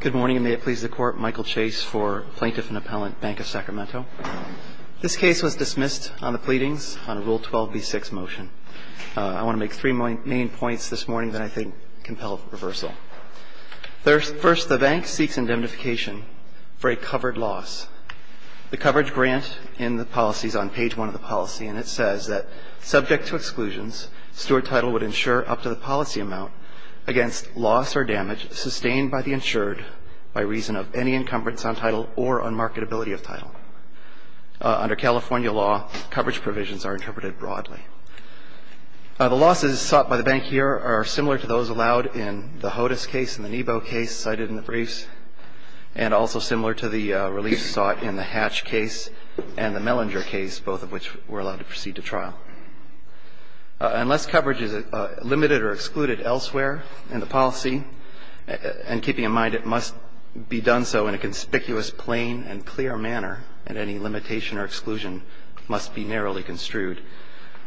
Good morning, and may it please the Court, Michael Chase for Plaintiff and Appellant, Bank of Sacramento. This case was dismissed on the pleadings on a Rule 12b-6 motion. I want to make three main points this morning that I think compel reversal. First, the bank seeks indemnification for a covered loss. The coverage grant in the policy is on page one of the policy, and it says that subject to exclusions, Stewart Title would insure up to the policy amount against loss or damage sustained by the insured by reason of any encumbrance on title or unmarketability of title. Under California law, coverage provisions are interpreted broadly. The losses sought by the bank here are similar to those allowed in the HODIS case and the NEBO case cited in the briefs, and also similar to the reliefs sought in the Hatch case and the Mellinger case, both of which were allowed to proceed to trial. Unless coverage is limited or excluded elsewhere in the policy, and keeping in mind, it must be done so in a conspicuous, plain, and clear manner, and any limitation or exclusion must be narrowly construed,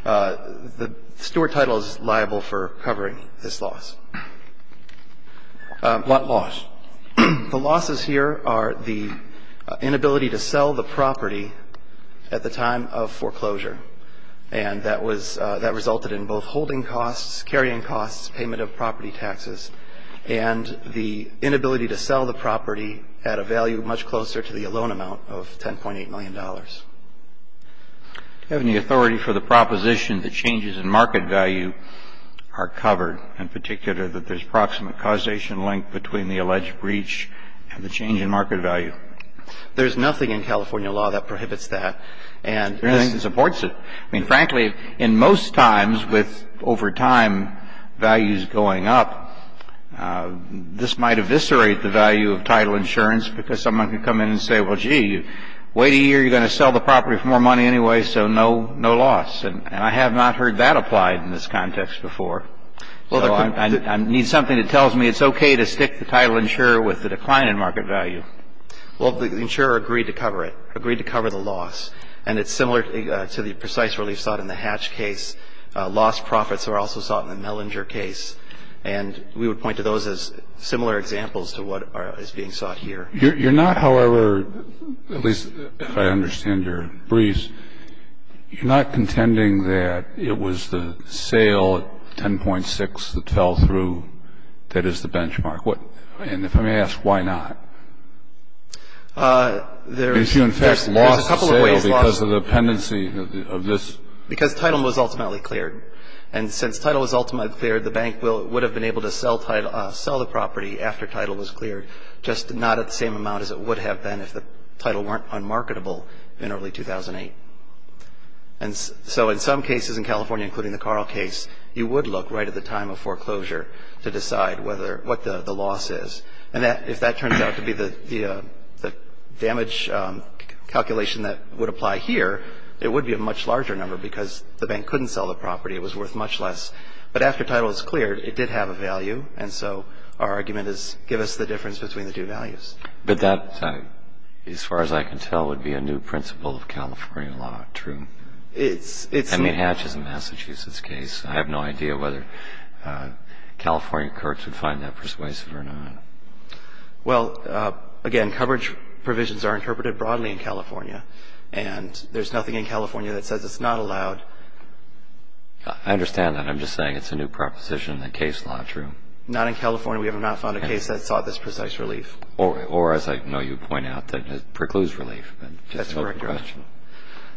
the Stewart Title is liable for covering this loss. What loss? The losses here are the inability to sell the property at the time of foreclosure. And that resulted in both holding costs, carrying costs, payment of property taxes, and the inability to sell the property at a value much closer to the loan amount of $10.8 million. Do you have any authority for the proposition that changes in market value are covered, in particular that there's proximate causation link between the alleged breach and the change in market value? There's nothing in California law that prohibits that. And this supports it. I mean, frankly, in most times with over time values going up, this might eviscerate the value of title insurance because someone could come in and say, well, gee, wait a year, you're going to sell the property for more money anyway, so no loss. And I have not heard that applied in this context before. So I need something that tells me it's okay to stick the title insurer with the decline in market value. Well, the insurer agreed to cover it, agreed to cover the loss. And it's similar to the precise relief sought in the Hatch case. Lost profits are also sought in the Mellinger case. And we would point to those as similar examples to what is being sought here. You're not, however, at least if I understand your briefs, you're not contending that it was the sale at 10.6 that fell through that is the benchmark. And if I may ask, why not? If you in fact lost the sale because of the pendency of this? Because title was ultimately cleared. And since title was ultimately cleared, the bank would have been able to sell the property after title was cleared, just not at the same amount as it would have been if the title weren't unmarketable in early 2008. And so in some cases in California, including the Carl case, you would look right at the time of foreclosure to decide what the loss is. And if that turns out to be the damage calculation that would apply here, it would be a much larger number because the bank couldn't sell the property. It was worth much less. But after title was cleared, it did have a value. And so our argument is give us the difference between the two values. But that, as far as I can tell, would be a new principle of California law, true? It's not. I mean, Hatch is a Massachusetts case. I have no idea whether California courts would find that persuasive or not. Well, again, coverage provisions are interpreted broadly in California. And there's nothing in California that says it's not allowed. I understand that. I'm just saying it's a new proposition in the case law, true? Not in California. We have not found a case that sought this precise relief. Or, as I know you point out, that precludes relief. That's correct, Your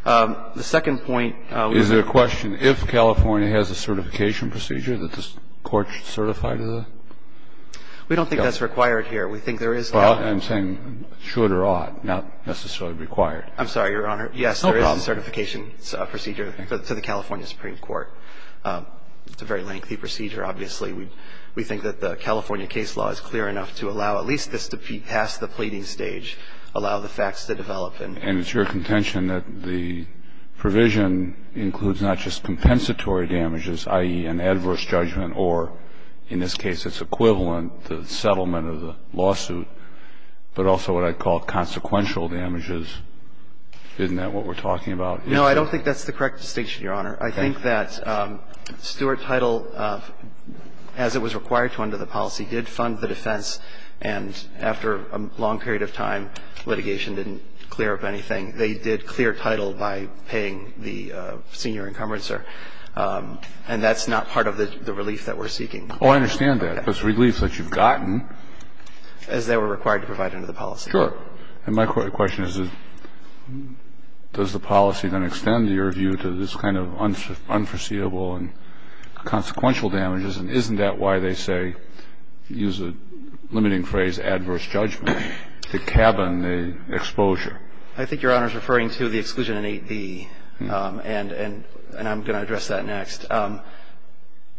Honor. The second point. Is there a question if California has a certification procedure that this Court should certify to the? We don't think that's required here. We think there is now. Well, I'm saying should or ought, not necessarily required. I'm sorry, Your Honor. No problem. Yes, there is a certification procedure to the California Supreme Court. It's a very lengthy procedure. Obviously, we think that the California case law is clear enough to allow at least this to be past the pleading stage, allow the facts to develop. And it's your contention that the provision includes not just compensatory damages, i.e., an adverse judgment, or, in this case, it's equivalent to the settlement of the lawsuit, but also what I'd call consequential damages. Isn't that what we're talking about? No, I don't think that's the correct distinction, Your Honor. I think that Stuart Title, as it was required to under the policy, did fund the defense. And after a long period of time, litigation didn't clear up anything. They did clear Title by paying the senior encumbrancer. And that's not part of the relief that we're seeking. Oh, I understand that. It's relief that you've gotten. As they were required to provide under the policy. Sure. And my question is, does the policy then extend your view to this kind of unforeseeable and consequential damages? And isn't that why they say, use a limiting phrase, adverse judgment, the cabin, the exposure? I think Your Honor is referring to the exclusion in 8b. And I'm going to address that next.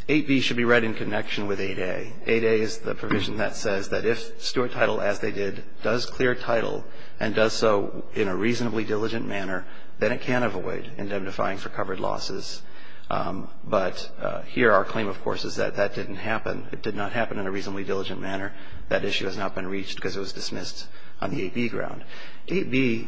8b should be read in connection with 8a. 8a is the provision that says that if Stuart Title, as they did, does clear Title and does so in a reasonably diligent manner, then it can avoid indemnifying for covered losses. But here our claim, of course, is that that didn't happen. It did not happen in a reasonably diligent manner. That issue has not been reached because it was dismissed on the 8b ground. 8b,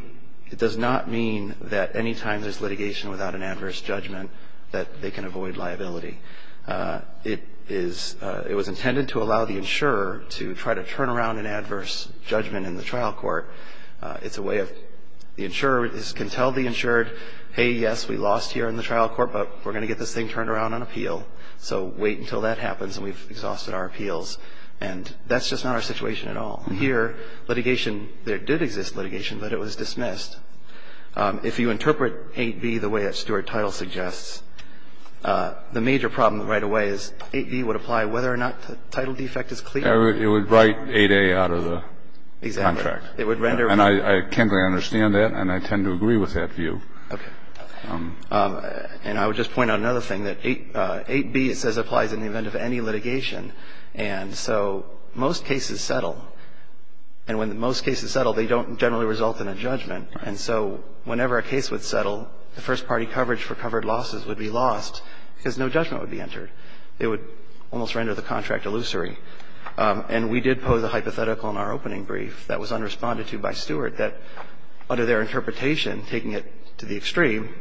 it does not mean that any time there's litigation without an adverse judgment that they can avoid liability. It was intended to allow the insurer to try to turn around an adverse judgment in the trial court. It's a way of the insurer can tell the insured, hey, yes, we lost here in the trial court, but we're going to get this thing turned around on appeal. So wait until that happens, and we've exhausted our appeals. And that's just not our situation at all. Here, litigation, there did exist litigation, but it was dismissed. If you interpret 8b the way that Stuart Title suggests, the major problem right away is 8b would apply whether or not the title defect is clear. It would write 8a out of the contract. Exactly. It would render. And I can't really understand that, and I tend to agree with that view. Okay. And I would just point out another thing, that 8b, it says, applies in the event of any litigation. And so most cases settle. And when most cases settle, they don't generally result in a judgment. And so whenever a case would settle, the first-party coverage for covered losses would be lost because no judgment would be entered. It would almost render the contract illusory. And we did pose a hypothetical in our opening brief that was unresponded to by Stuart that under their interpretation, taking it to the extreme,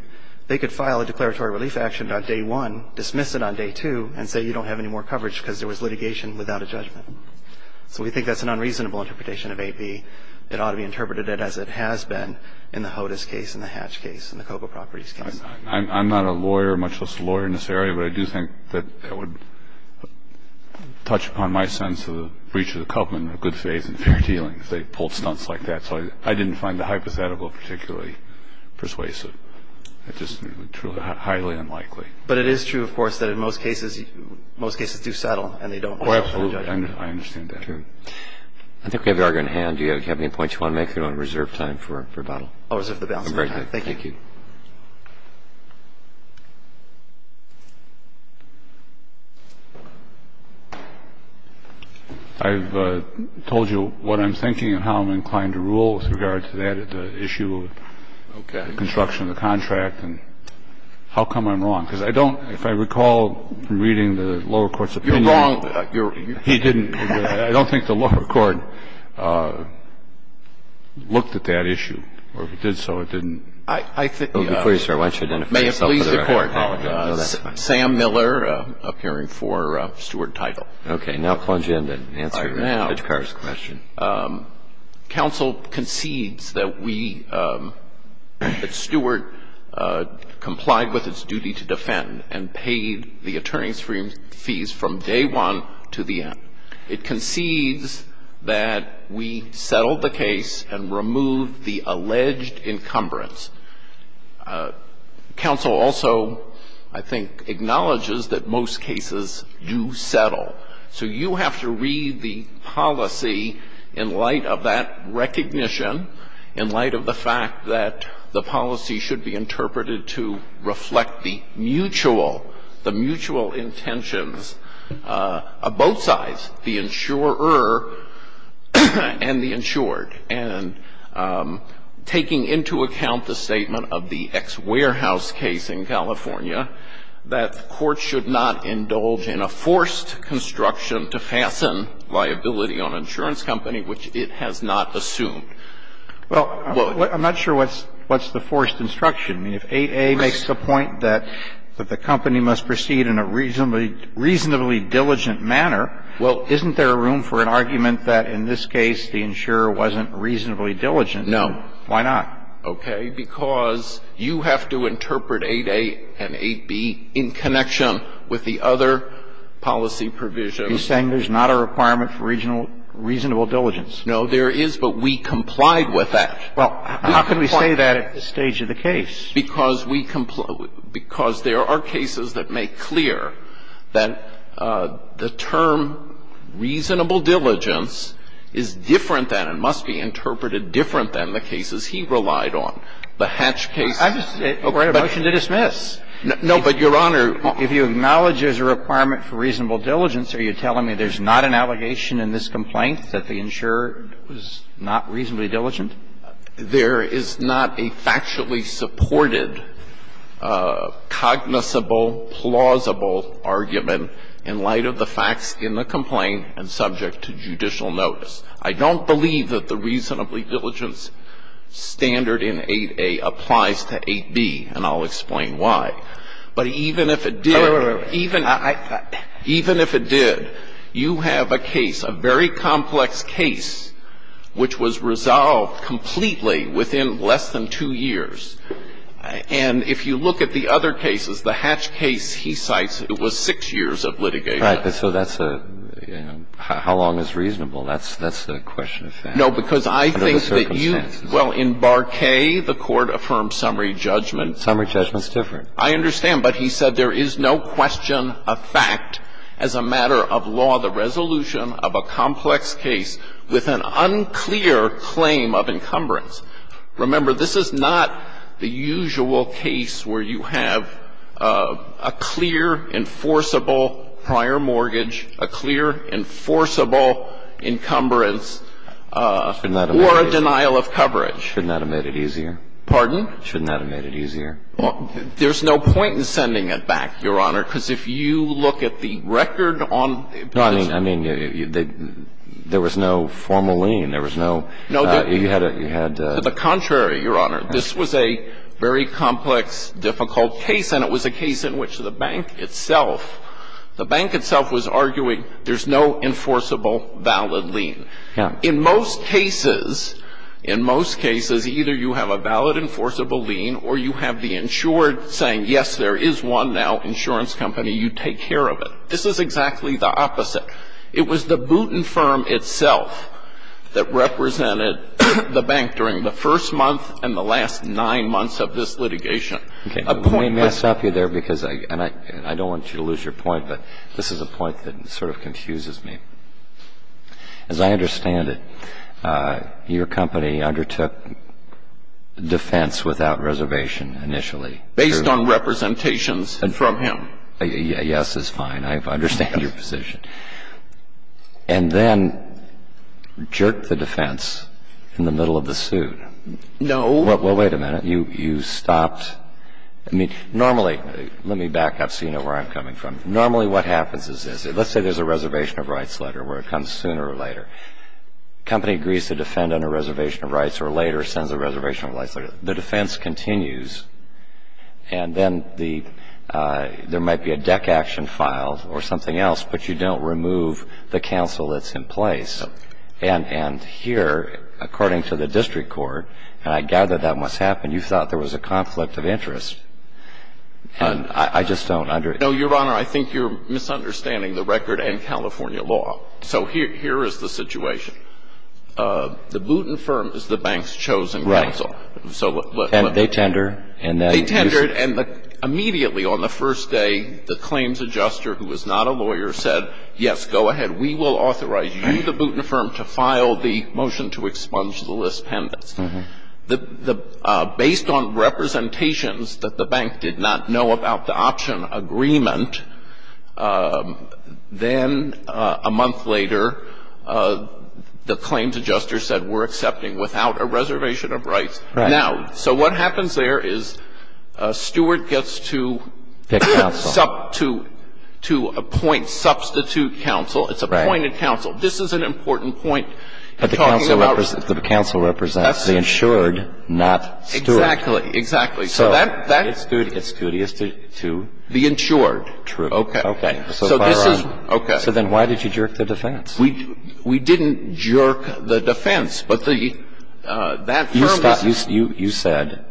they could file a declaratory relief action on day one, dismiss it on day two, and say you don't have any more coverage because there was litigation without a judgment. So we think that's an unreasonable interpretation of 8b. It ought to be interpreted as it has been in the HOTIS case and the Hatch case and the Cocoa Properties case. I'm not a lawyer, much less a lawyer in this area, but I do think that that would touch upon my sense of the breach of the covenant in a good faith and fair dealing if they pulled stunts like that. So I didn't find the hypothetical particularly persuasive. It's just highly unlikely. But it is true, of course, that in most cases, most cases do settle and they don't have a judgment. Oh, absolutely. I understand that. I think we have the argument at hand. Do you have any points you want to make, or do you want to reserve time for rebuttal? I'll reserve the balance of my time. Thank you. Thank you. I've told you what I'm thinking and how I'm inclined to rule with regard to that, the issue of the construction of the contract, and how come I'm wrong? Because I don't, if I recall from reading the lower court's opinion. You're wrong. He didn't. I don't think the lower court looked at that issue, or if it did so, it didn't look at the construction. The construction, yes. I think, before you, sir, why don't you identify yourself, otherwise I apologize. May it please the Court. Okay. Now plunge in and answer the judge's question. Counsel concedes that we, that Stewart complied with its duty to defend and paid the attorney's fees from day one to the end. It concedes that we settled the case and removed the alleged encumbrance. Counsel also, I think, acknowledges that most cases do settle. So you have to read the policy in light of that recognition, in light of the fact that the policy should be interpreted to reflect the mutual, the mutual intentions of both sides, the insurer and the insured, and taking into account the statement of the X Warehouse case in California, that the Court should not indulge in a forced construction to fasten liability on an insurance company which it has not assumed. Well, I'm not sure what's the forced construction. I mean, if 8A makes the point that the company must proceed in a reasonably diligent manner, well, isn't there room for an argument that in this case the insurer wasn't reasonably diligent? No. Why not? Okay. Because you have to interpret 8A and 8B in connection with the other policy provision. You're saying there's not a requirement for reasonable diligence. No, there is, but we complied with that. Well, how can we say that at this stage of the case? Because we complied with it. Because there are cases that make clear that the term reasonable diligence is different than and must be interpreted different than the cases he relied on. The Hatch case. We're at a motion to dismiss. No, but, Your Honor. If you acknowledge there's a requirement for reasonable diligence, are you telling me there's not an allegation in this complaint that the insurer was not reasonably diligent? There is not a factually supported, cognizable, plausible argument in light of the facts in the complaint and subject to judicial notice. I don't believe that the reasonably diligence standard in 8A applies to 8B, and I'll explain why. But even if it did, even if it did. You have a case, a very complex case, which was resolved completely within less than two years. And if you look at the other cases, the Hatch case, he cites, it was six years of litigation. Right, but so that's a, you know, how long is reasonable? That's the question of fact. No, because I think that you. Under the circumstances. Well, in Bar K, the Court affirmed summary judgment. Summary judgment's different. I understand, but he said there is no question of fact as a matter of law, the resolution of a complex case with an unclear claim of encumbrance. Remember, this is not the usual case where you have a clear, enforceable prior mortgage, a clear, enforceable encumbrance or a denial of coverage. Shouldn't that have made it easier? Pardon? Shouldn't that have made it easier? There's no point in sending it back, Your Honor, because if you look at the record on. No, I mean, there was no formal lien. There was no. You had a. To the contrary, Your Honor. This was a very complex, difficult case, and it was a case in which the bank itself was arguing there's no enforceable valid lien. In most cases, in most cases, either you have a valid enforceable lien or you have the insured saying, yes, there is one now, insurance company, you take care of it. This is exactly the opposite. It was the Booten Firm itself that represented the bank during the first month and the last nine months of this litigation. Okay. May I stop you there, because I don't want you to lose your point, but this is a point that sort of confuses me. As I understand it, your company undertook defense without reservation initially. Based on representations from him. Yes is fine. I understand your position. And then jerked the defense in the middle of the suit. No. Well, wait a minute. You stopped. I mean, normally, let me back up so you know where I'm coming from. Normally, what happens is this. Let's say there's a reservation of rights letter where it comes sooner or later. Company agrees to defend under reservation of rights or later sends a reservation of rights letter. The defense continues, and then there might be a deck action filed or something else, but you don't remove the counsel that's in place. And here, according to the district court, and I gather that must happen, you thought there was a conflict of interest. And I just don't understand. No, Your Honor, I think you're misunderstanding the record and California law. So here is the situation. The Boutin firm is the bank's chosen counsel. Right. And they tender. They tender, and immediately on the first day, the claims adjuster, who is not a lawyer, said, yes, go ahead, we will authorize you, the Boutin firm, to file the motion to expunge the list pendants. Based on representations that the bank did not know about the option agreement, then a month later, the claims adjuster said, we're accepting without a reservation of rights. Right. Now, so what happens there is Stewart gets to to appoint, substitute counsel. It's appointed counsel. This is an important point. But the counsel represents. The insured, not Stewart. Exactly. Exactly. So that's. It's studious to. The insured. True. Okay. Okay. So this is. Okay. So then why did you jerk the defense? We didn't jerk the defense, but that firm is. You said,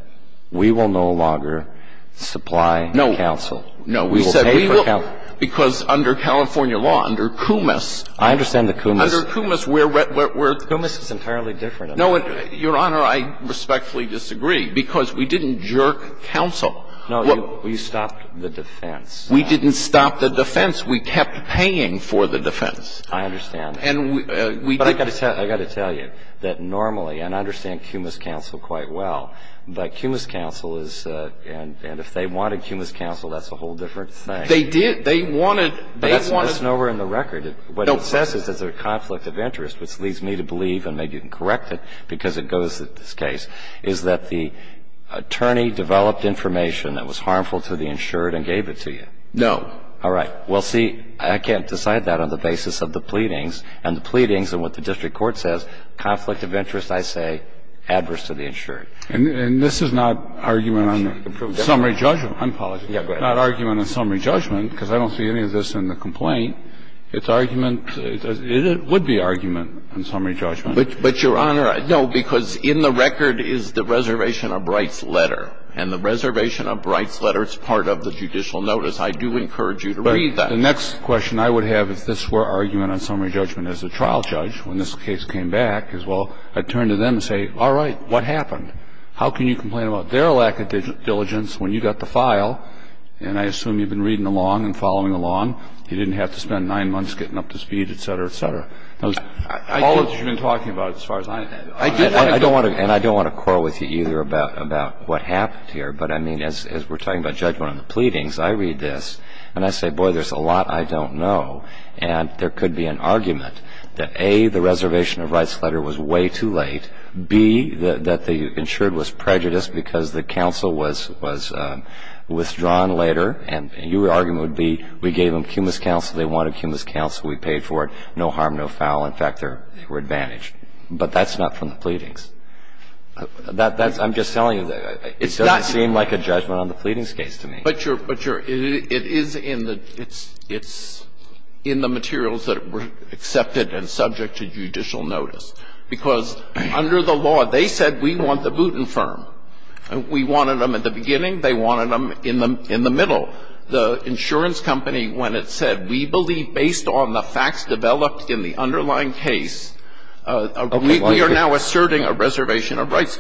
we will no longer supply counsel. No. No. We will pay for counsel. Because under California law, under Coomis. I understand the Coomis. Under Coomis, we're. Coomis is entirely different. No. Your Honor, I respectfully disagree, because we didn't jerk counsel. No. You stopped the defense. We didn't stop the defense. We kept paying for the defense. I understand. And we. But I got to tell you that normally, and I understand Coomis counsel quite well, but Coomis counsel is. And if they wanted Coomis counsel, that's a whole different thing. They did. They wanted. They wanted. But that's nowhere in the record. No. Well, what it says is there's a conflict of interest, which leads me to believe, and maybe you can correct it because it goes to this case, is that the attorney developed information that was harmful to the insured and gave it to you. No. All right. Well, see, I can't decide that on the basis of the pleadings. And the pleadings and what the district court says, conflict of interest, I say, adverse to the insured. And this is not argument on summary judgment. I'm sorry. Yeah, go ahead. Not argument on summary judgment, because I don't see any of this in the complaint. It's argument. It would be argument on summary judgment. But, Your Honor, no, because in the record is the reservation of Bright's letter. And the reservation of Bright's letter is part of the judicial notice. I do encourage you to read that. The next question I would have if this were argument on summary judgment as a trial judge when this case came back is, well, I'd turn to them and say, all right, what happened? How can you complain about their lack of diligence when you got the file? And I assume you've been reading along and following along. You didn't have to spend nine months getting up to speed, et cetera, et cetera. All of this you've been talking about as far as I know. I do think that's true. And I don't want to quarrel with you either about what happened here. But, I mean, as we're talking about judgment on the pleadings, I read this and I say, boy, there's a lot I don't know. And there could be an argument that, A, the reservation of Bright's letter was way too late, B, that the insured was prejudiced because the counsel was withdrawn later, and your argument would be we gave them cumulus counsel, they wanted cumulus counsel, we paid for it, no harm, no foul. In fact, they were advantaged. But that's not from the pleadings. That's – I'm just telling you, it doesn't seem like a judgment on the pleadings case to me. But you're – it is in the – it's in the materials that were accepted and subject to judicial notice. Because under the law, they said we want the Booten firm. We wanted them at the beginning. They wanted them in the – in the middle. The insurance company, when it said, we believe based on the facts developed in the underlying case, we are now asserting a reservation of rights.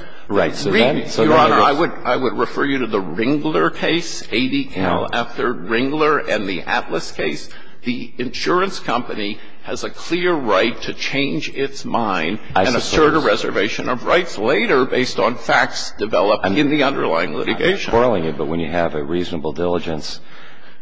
Your Honor, I would – I would refer you to the Ringler case, ADL, after Ringler and the Atlas case. The insurance company has a clear right to change its mind and assert a reservation of rights later based on facts developed in the underlying litigation. But when you have a reasonable diligence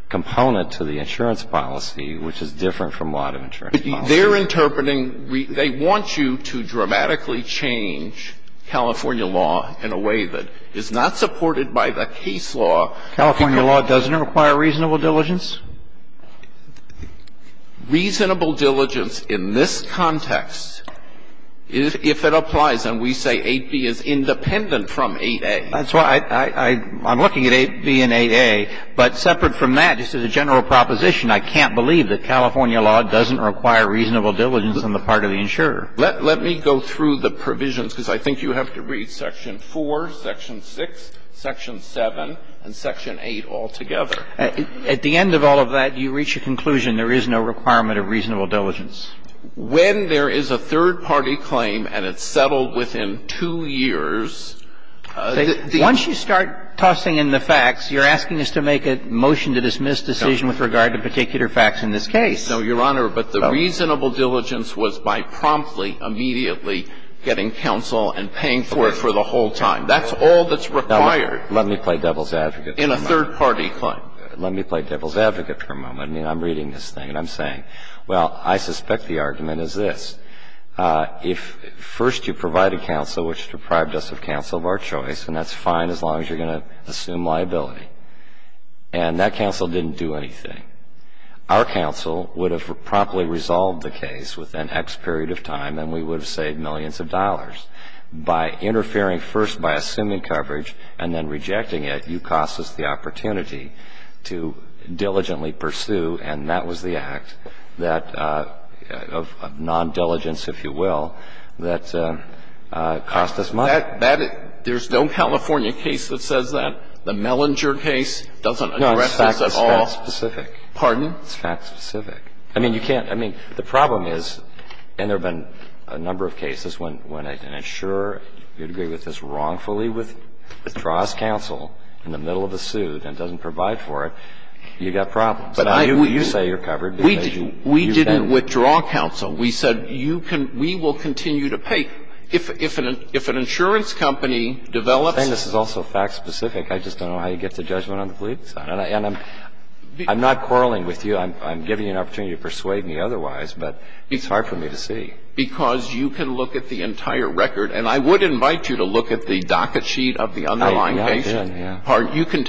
component to the insurance policy, which is different from a lot of insurance policy. They're interpreting – they want you to dramatically change California law in a way that is not supported by the case law. California law doesn't require reasonable diligence? Reasonable diligence in this context, if it applies, and we say 8b is independent from 8a. That's why I – I'm looking at 8b and 8a, but separate from that, just as a general proposition, I can't believe that California law doesn't require reasonable diligence on the part of the insurer. Let me go through the provisions, because I think you have to read section 4, section 6, section 7, and section 8 all together. At the end of all of that, you reach a conclusion there is no requirement of reasonable diligence. When there is a third-party claim and it's settled within two years, the – Once you start tossing in the facts, you're asking us to make a motion to dismiss decision with regard to particular facts in this case. No, Your Honor, but the reasonable diligence was by promptly, immediately getting counsel and paying for it for the whole time. That's all that's required. Let me play devil's advocate for a moment. In a third-party claim. Let me play devil's advocate for a moment. I mean, I'm reading this thing and I'm saying, well, I suspect the argument is this. If first you provide a counsel which deprived us of counsel of our choice, and that's fine as long as you're going to assume liability. And that counsel didn't do anything. Our counsel would have promptly resolved the case within X period of time and we would have saved millions of dollars. By interfering first by assuming coverage and then rejecting it, you cost us the And that was the act that, of non-diligence, if you will, that cost us money. That – there's no California case that says that. The Mellinger case doesn't address this at all. No, it's fact-specific. Pardon? It's fact-specific. I mean, you can't – I mean, the problem is, and there have been a number of cases when an insurer, you'd agree with this wrongfully, withdraws counsel in the middle of a suit and doesn't provide for it. You've got problems. You say you're covered. We didn't withdraw counsel. We said you can – we will continue to pay. If an insurance company develops – I'm saying this is also fact-specific. I just don't know how you get to judgment on the fleets. And I'm not quarreling with you. I'm giving you an opportunity to persuade me otherwise, but it's hard for me to see. Because you can look at the entire record. And I would invite you to look at the docket sheet of the underlying case. I don't think you can pull the judicial decision. You can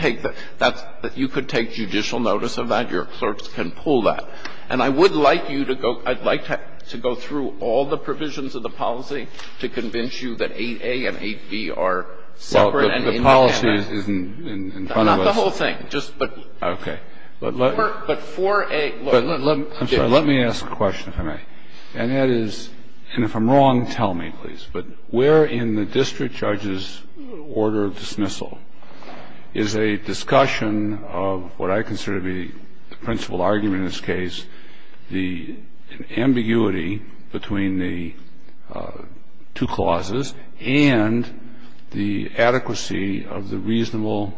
take that. You can take judicial notice of that. Your clerks can pull that. And I would like you to go – I'd like to go through all the provisions of the policy to convince you that 8a and 8b are separate and in the canvas. Well, the policy is in front of us. Not the whole thing, just the – But for a – I'm sorry. Let me ask a question, if I may. And that is – and if I'm wrong, tell me, please. But where in the district judge's order of dismissal is a discussion of what I consider to be the principal argument in this case, the ambiguity between the two clauses and the adequacy of the reasonable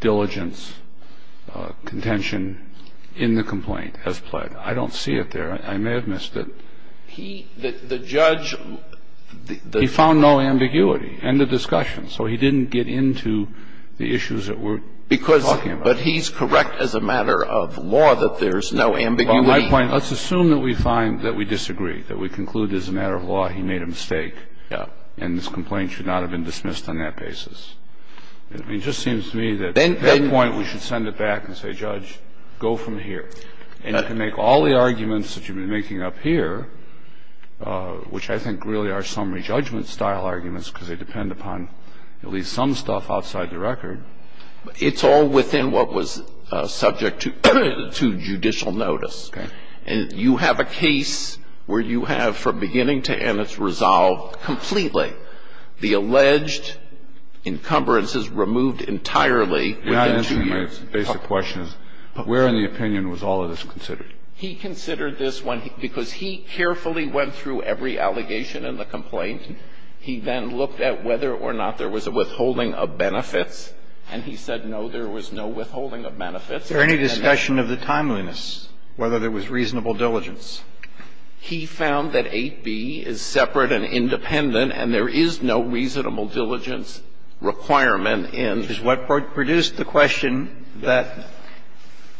diligence contention in the complaint as pled? I don't see it there. I may have missed it. He – the judge – He found no ambiguity. End of discussion. So he didn't get into the issues that we're talking about. Because – but he's correct as a matter of law that there's no ambiguity. By my point, let's assume that we find – that we disagree, that we conclude as a matter of law he made a mistake. Yeah. And this complaint should not have been dismissed on that basis. It just seems to me that at that point we should send it back and say, Judge, go from here. And you can make all the arguments that you've been making up here, which I think really are summary judgment-style arguments because they depend upon at least some stuff outside the record. It's all within what was subject to judicial notice. Okay. And you have a case where you have, from beginning to end, it's resolved completely. The alleged encumbrance is removed entirely within two years. You're not answering my basic questions. Where in the opinion was all of this considered? He considered this when he – because he carefully went through every allegation in the complaint. He then looked at whether or not there was a withholding of benefits. And he said, no, there was no withholding of benefits. Is there any discussion of the timeliness, whether there was reasonable diligence? He found that 8b is separate and independent, and there is no reasonable diligence requirement in this case. This is what produced the question that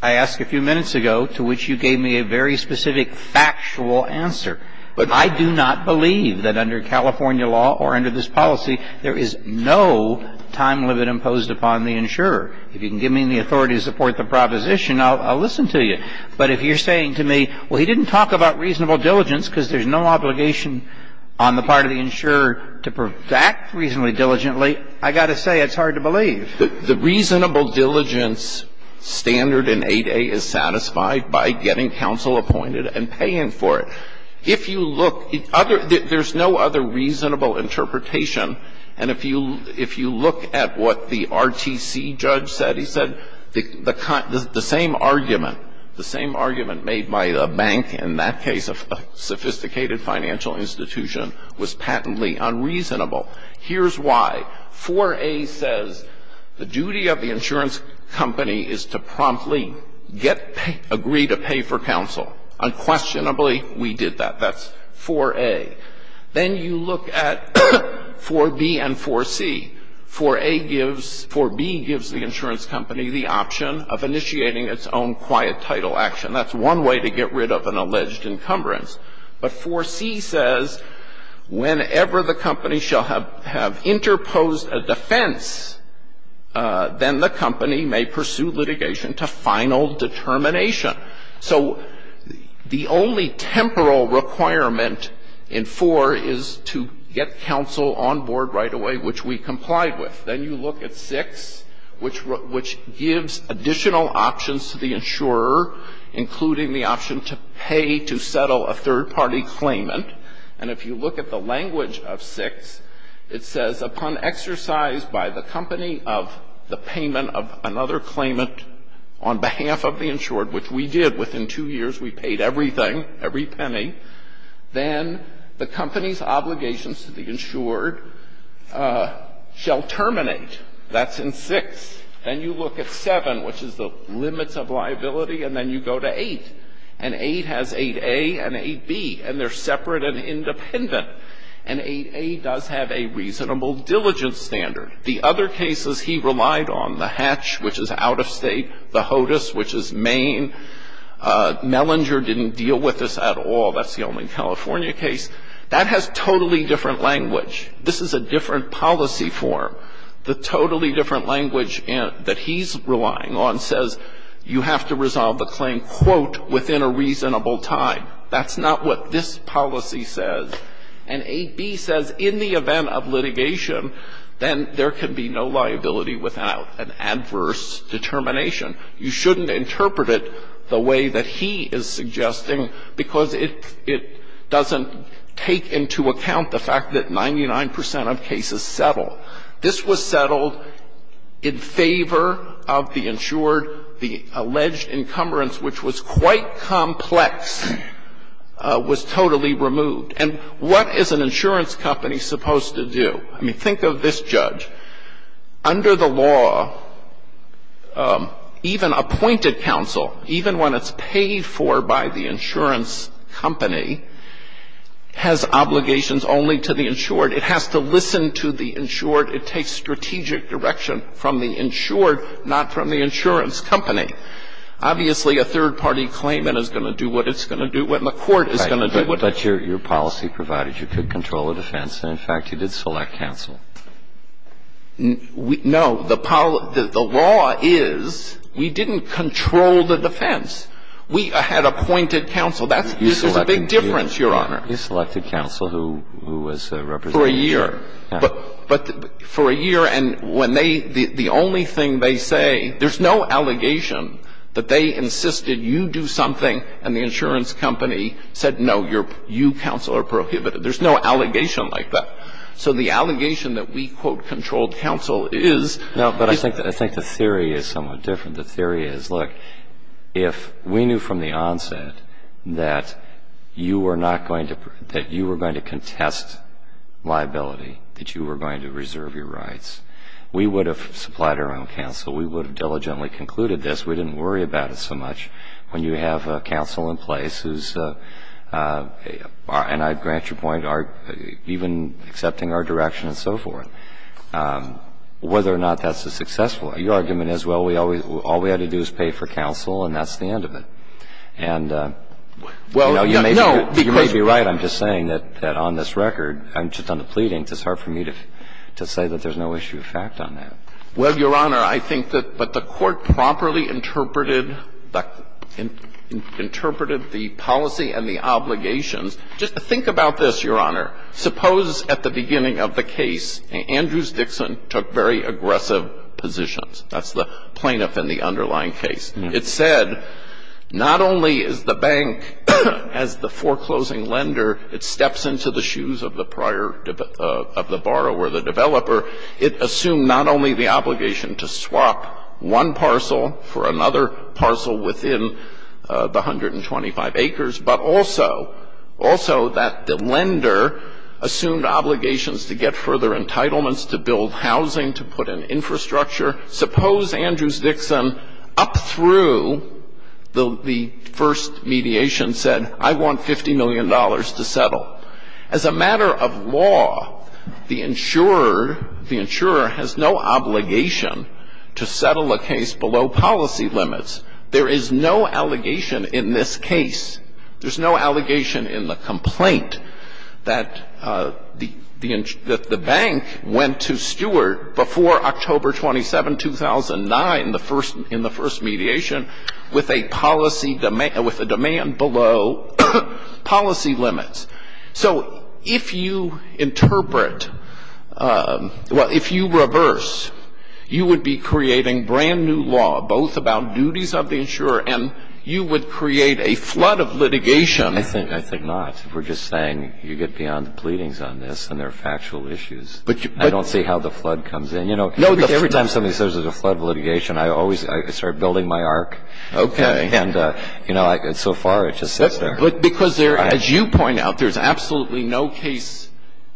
I asked a few minutes ago, to which you gave me a very specific factual answer. But I do not believe that under California law or under this policy, there is no time limit imposed upon the insurer. If you can give me the authority to support the proposition, I'll listen to you. But if you're saying to me, well, he didn't talk about reasonable diligence because there's no obligation on the part of the insurer to act reasonably diligently, I got to say it's hard to believe. The reasonable diligence standard in 8a is satisfied by getting counsel appointed and paying for it. If you look, there's no other reasonable interpretation. And if you look at what the RTC judge said, he said the same argument, the same argument made by a bank in that case, a sophisticated financial institution, was patently unreasonable. Here's why. 4a says the duty of the insurance company is to promptly get pay, agree to pay for counsel. Unquestionably, we did that. That's 4a. Then you look at 4b and 4c. 4a gives, 4b gives the insurance company the option of initiating its own quiet title action. That's one way to get rid of an alleged encumbrance. But 4c says whenever the company shall have interposed a defense, then the company may pursue litigation to final determination. So the only temporal requirement in 4 is to get counsel on board right away, which we complied with. Then you look at 6, which gives additional options to the insurer, including the option to pay to settle a third-party claimant. And if you look at the language of 6, it says upon exercise by the company of the we paid everything, every penny. Then the company's obligations to the insured shall terminate. That's in 6. Then you look at 7, which is the limits of liability, and then you go to 8. And 8 has 8a and 8b, and they're separate and independent. And 8a does have a reasonable diligence standard. The other cases he relied on, the Hatch, which is out of State, the HOTUS, which is Maine, Mellinger didn't deal with this at all. That's the only California case. That has totally different language. This is a different policy form. The totally different language that he's relying on says you have to resolve the claim, quote, within a reasonable time. That's not what this policy says. And 8b says in the event of litigation, then there can be no liability without an adverse determination. You shouldn't interpret it the way that he is suggesting because it doesn't take into account the fact that 99 percent of cases settle. This was settled in favor of the insured. The alleged encumbrance, which was quite complex, was totally removed. And what is an insurance company supposed to do? I mean, think of this judge. Under the law, even appointed counsel, even when it's paid for by the insurance company, has obligations only to the insured. It has to listen to the insured. It takes strategic direction from the insured, not from the insurance company. Obviously, a third-party claimant is going to do what it's going to do and the court is going to do what it's going to do. And so, you're saying that the insurance company is going to do what it's going Well, let me tell you something about it. You could control a defense, and in fact, you did select counsel. No. The law is we didn't control the defense. We had appointed counsel. That's a big difference, Your Honor. You selected counsel who was a representative. For a year. But for a year, and when they, the only thing they say, there's no allegation that they insisted you do something and the insurance company said, no, you counsel are prohibited. There's no allegation like that. So the allegation that we, quote, controlled counsel is No, but I think the theory is somewhat different. The theory is, look, if we knew from the onset that you were not going to, that you were going to contest liability, that you were going to reserve your rights, we would have supplied our own counsel. We would have diligently concluded this. We didn't worry about it so much. When you have counsel in place who's, and I grant your point, even accepting our direction and so forth, whether or not that's a successful argument is, well, all we had to do is pay for counsel and that's the end of it. And, you know, you may be right. But I'm just saying that on this record, just on the pleadings, it's hard for me to say that there's no issue of fact on that. Well, Your Honor, I think that, but the Court properly interpreted the, interpreted the policy and the obligations. Just think about this, Your Honor. Suppose at the beginning of the case, Andrews Dixon took very aggressive positions. That's the plaintiff in the underlying case. It said not only is the bank, as the foreclosing lender, it steps into the shoes of the prior, of the borrower, the developer, it assumed not only the obligation to swap one parcel for another parcel within the 125 acres, but also, also that the lender assumed obligations to get further entitlements to build housing, to put in infrastructure. Suppose Andrews Dixon up through the first mediation said, I want $50 million to settle. As a matter of law, the insurer, the insurer has no obligation to settle a case below policy limits. There is no allegation in this case, there's no allegation in the complaint, that the bank went to Stewart before October 27, 2009, the first, in the first mediation, with a policy demand, with a demand below policy limits. So if you interpret, well, if you reverse, you would be creating brand-new law both about duties of the insurer and you would create a flood of litigation. I think not. We're just saying you get beyond the pleadings on this and there are factual issues. I don't see how the flood comes in. You know, every time somebody says there's a flood of litigation, I always, I start building my arc. Okay. And, you know, so far it just sits there. Because there, as you point out, there's absolutely no case,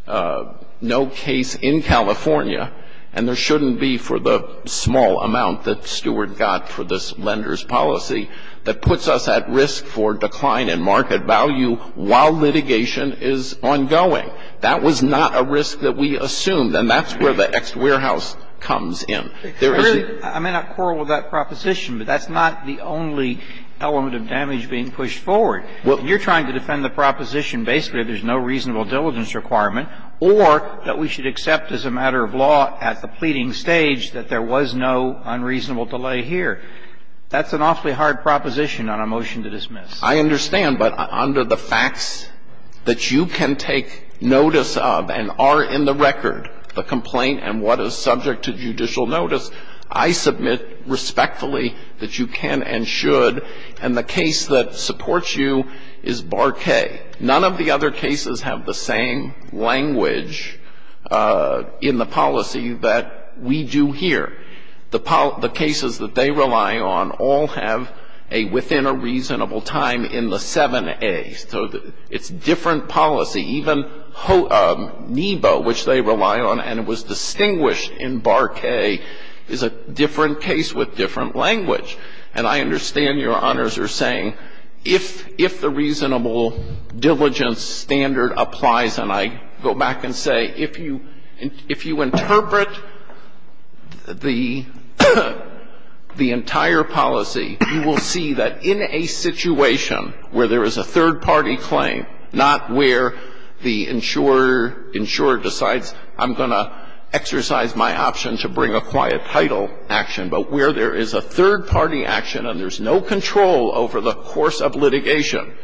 no case in California, and there shouldn't be for the small amount that Stewart got for this lender's policy that puts us at risk for decline in market value while litigation is ongoing. That was not a risk that we assumed. And that's where the ex-warehouse comes in. There is the ---- I may not quarrel with that proposition, but that's not the only element of damage being pushed forward. Well, you're trying to defend the proposition basically that there's no reasonable diligence requirement or that we should accept as a matter of law at the pleading stage that there was no unreasonable delay here. That's an awfully hard proposition on a motion to dismiss. I understand. But under the facts that you can take notice of and are in the record, the complaint and what is subject to judicial notice, I submit respectfully that you can and should and the case that supports you is Bar K. None of the other cases have the same language in the policy that we do here. The cases that they rely on all have a within a reasonable time in the 7A. So it's different policy. Even NEBO, which they rely on and was distinguished in Bar K, is a different case with different language. And I understand Your Honors are saying if the reasonable diligence standard applies, and I go back and say if you interpret the entire policy, you will see that in a situation where there is a third party claim, not where the insurer decides, I'm going to exercise my option to bring a quiet title action, but where there is a third party action and there's no control over the course of litigation,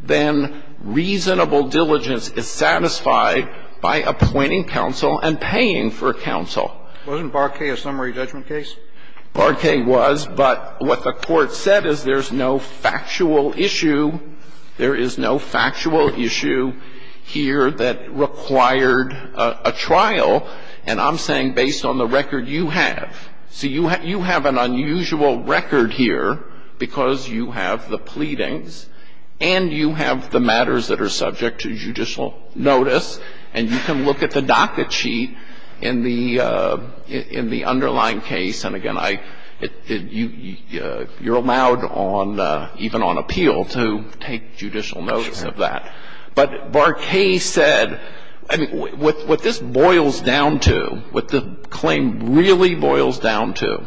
then reasonable diligence is satisfied by appointing counsel and paying for counsel. Wasn't Bar K a summary judgment case? Bar K was, but what the Court said is there's no factual issue. There is no factual issue here that required a trial. And I'm saying based on the record you have. So you have an unusual record here because you have the pleadings and you have the judicial notice and you can look at the docket sheet in the underlying case. And, again, you're allowed even on appeal to take judicial notice of that. But Bar K said, what this boils down to, what the claim really boils down to,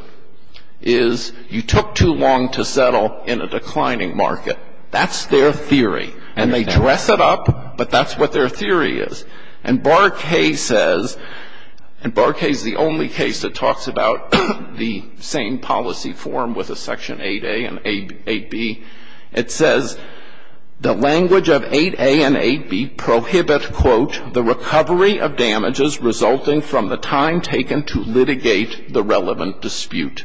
is you took too long to settle in a declining market. That's their theory. And they dress it up, but that's what their theory is. And Bar K says, and Bar K is the only case that talks about the same policy form with a section 8A and 8B. It says the language of 8A and 8B prohibit, quote, the recovery of damages resulting from the time taken to litigate the relevant dispute.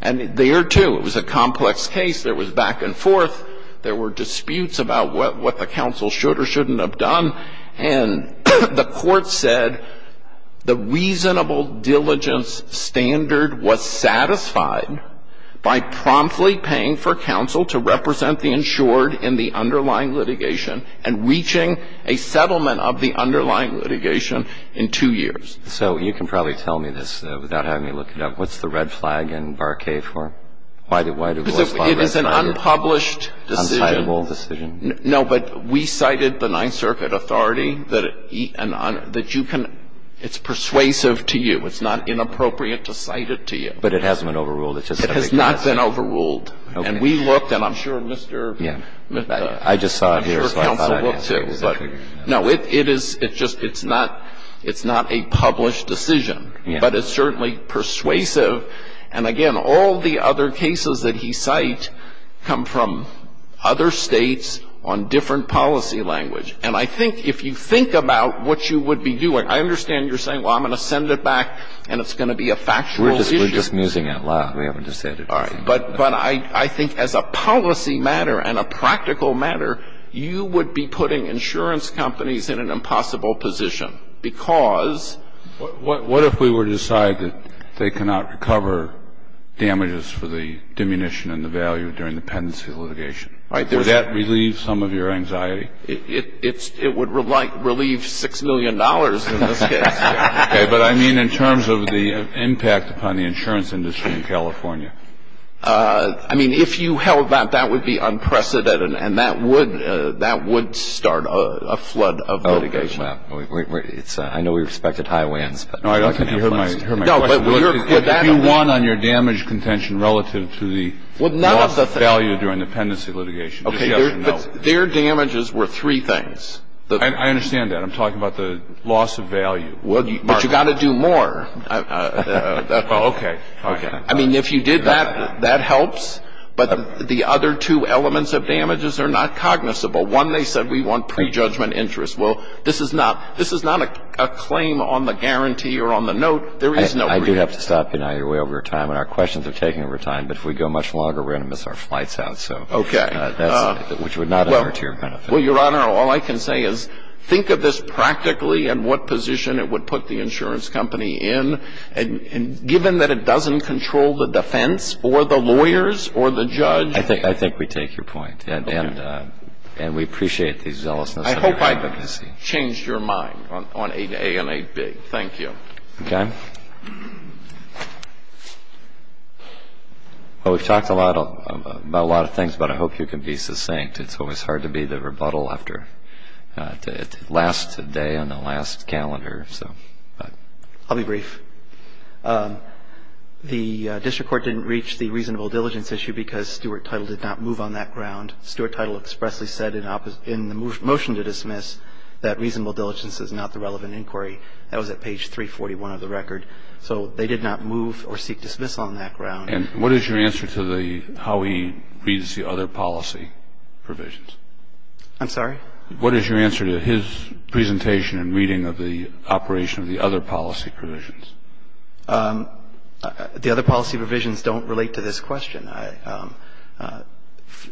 And there, too, it was a complex case. There was back and forth. There were disputes about what the counsel should or shouldn't have done. And the Court said the reasonable diligence standard was satisfied by promptly paying for counsel to represent the insured in the underlying litigation and reaching a settlement of the underlying litigation in two years. So you can probably tell me this without having me look it up. What's the red flag in Bar K for? Why do you think it's a red flag? Because it is an unpublished decision. Uncitable decision. No, but we cited the Ninth Circuit authority that you can – it's persuasive to you. It's not inappropriate to cite it to you. But it hasn't been overruled. It just doesn't exist. It has not been overruled. Okay. And we looked, and I'm sure Mr. — Yeah. I just saw it here. I'm sure counsel looked, too. No, it is – it's just – it's not a published decision. Yeah. But it's certainly persuasive. And, again, all the other cases that he cites come from other States on different policy language. And I think if you think about what you would be doing, I understand you're saying, well, I'm going to send it back and it's going to be a factual issue. We're just musing it. We haven't decided. All right. But I think as a policy matter and a practical matter, you would be putting insurance companies in an impossible position because – What if we were to decide that they cannot recover damages for the diminution and the value during the pendency litigation? Would that relieve some of your anxiety? It would relieve $6 million in this case. Okay. But, I mean, in terms of the impact upon the insurance industry in California. I mean, if you held that, that would be unprecedented. And that would start a flood of litigation. I know we respect it highlands. No, I don't think you heard my question. You won on your damage contention relative to the loss of value during the pendency litigation. Okay. Their damages were three things. I understand that. I'm talking about the loss of value. But you've got to do more. Okay. Okay. I mean, if you did that, that helps. But the other two elements of damages are not cognizable. One, they said we want prejudgment interest. Well, this is not a claim on the guarantee or on the note. There is no prejudice. I do have to stop you now. You're way over your time. And our questions are taking over time. But if we go much longer, we're going to miss our flights out. Okay. Which would not be to your benefit. Well, Your Honor, all I can say is think of this practically and what position it would put the insurance company in. And given that it doesn't control the defense or the lawyers or the judge. I think we take your point. Okay. And we appreciate the zealousness. I hope I've changed your mind on 8a and 8b. Thank you. Okay. Well, we've talked a lot about a lot of things, but I hope you can be succinct. It's always hard to be the rebuttal after it lasts a day on the last calendar. I'll be brief. The district court didn't reach the reasonable diligence issue because Stuart Title did not move on that ground. Stuart Title expressly said in the motion to dismiss that reasonable diligence is not the relevant inquiry. That was at page 341 of the record. So they did not move or seek dismissal on that ground. And what is your answer to the how he reads the other policy provisions? I'm sorry? What is your answer to his presentation and reading of the operation of the other policy provisions? The other policy provisions don't relate to this question.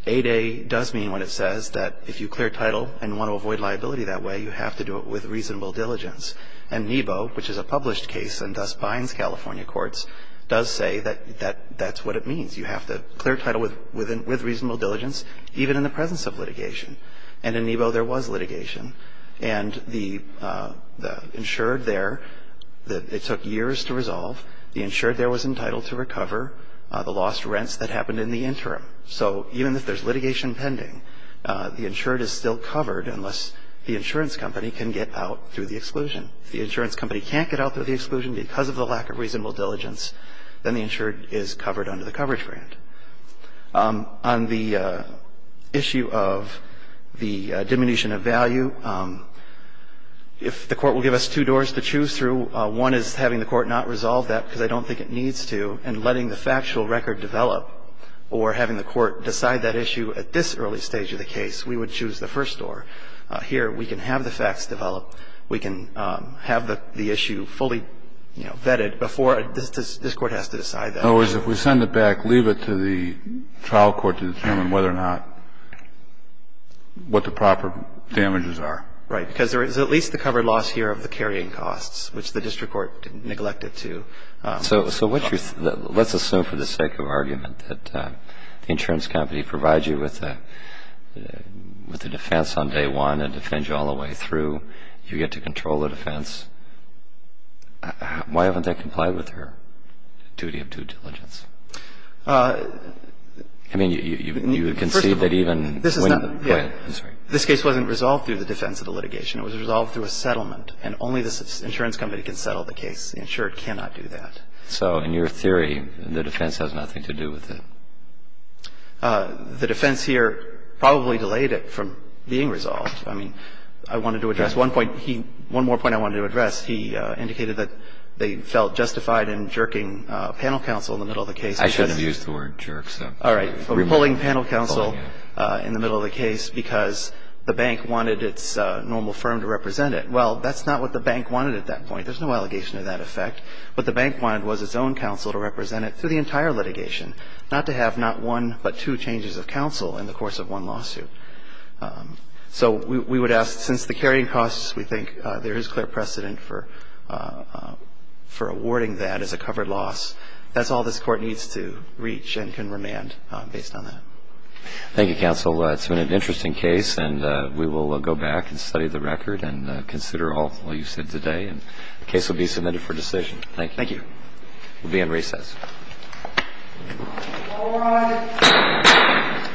8a does mean when it says that if you clear title and want to avoid liability that way, you have to do it with reasonable diligence. And NEBO, which is a published case and thus binds California courts, does say that that's what it means. You have to clear title with reasonable diligence even in the presence of litigation. And in NEBO there was litigation. And the insured there, it took years to resolve. The insured there was entitled to recover. The lost rents that happened in the interim. So even if there's litigation pending, the insured is still covered unless the insurance company can get out through the exclusion. If the insurance company can't get out through the exclusion because of the lack of reasonable diligence, then the insured is covered under the coverage grant. On the issue of the diminution of value, if the court will give us two doors to choose through, one is having the court not resolve that because I don't think it needs to and letting the factual record develop or having the court decide that issue at this early stage of the case, we would choose the first door. Here we can have the facts develop. We can have the issue fully, you know, vetted before this Court has to decide that. In other words, if we send it back, leave it to the trial court to determine whether or not what the proper damages are. Right. Because there is at least the covered loss here of the carrying costs, which the district court neglected to cover. So let's assume for the sake of argument that the insurance company provides you with a defense on day one and defends you all the way through. You get to control the defense. Why haven't they complied with their duty of due diligence? I mean, you would concede that even when the plaintiff was right. It was resolved through a settlement. And only the insurance company can settle the case. The insured cannot do that. So in your theory, the defense has nothing to do with it. The defense here probably delayed it from being resolved. I mean, I wanted to address one point. One more point I wanted to address. He indicated that they felt justified in jerking panel counsel in the middle of the case. I shouldn't have used the word jerk. All right. Pulling panel counsel in the middle of the case because the bank wanted its normal firm to represent it. Well, that's not what the bank wanted at that point. There's no allegation to that effect. What the bank wanted was its own counsel to represent it through the entire litigation, not to have not one but two changes of counsel in the course of one lawsuit. So we would ask, since the carrying costs, we think there is clear precedent for awarding that as a covered loss, that's all this court needs to reach and can remand based on that. Thank you, counsel. It's been an interesting case, and we will go back and study the record and consider all you said today. And the case will be submitted for decision. Thank you. Thank you. We'll be in recess. All rise.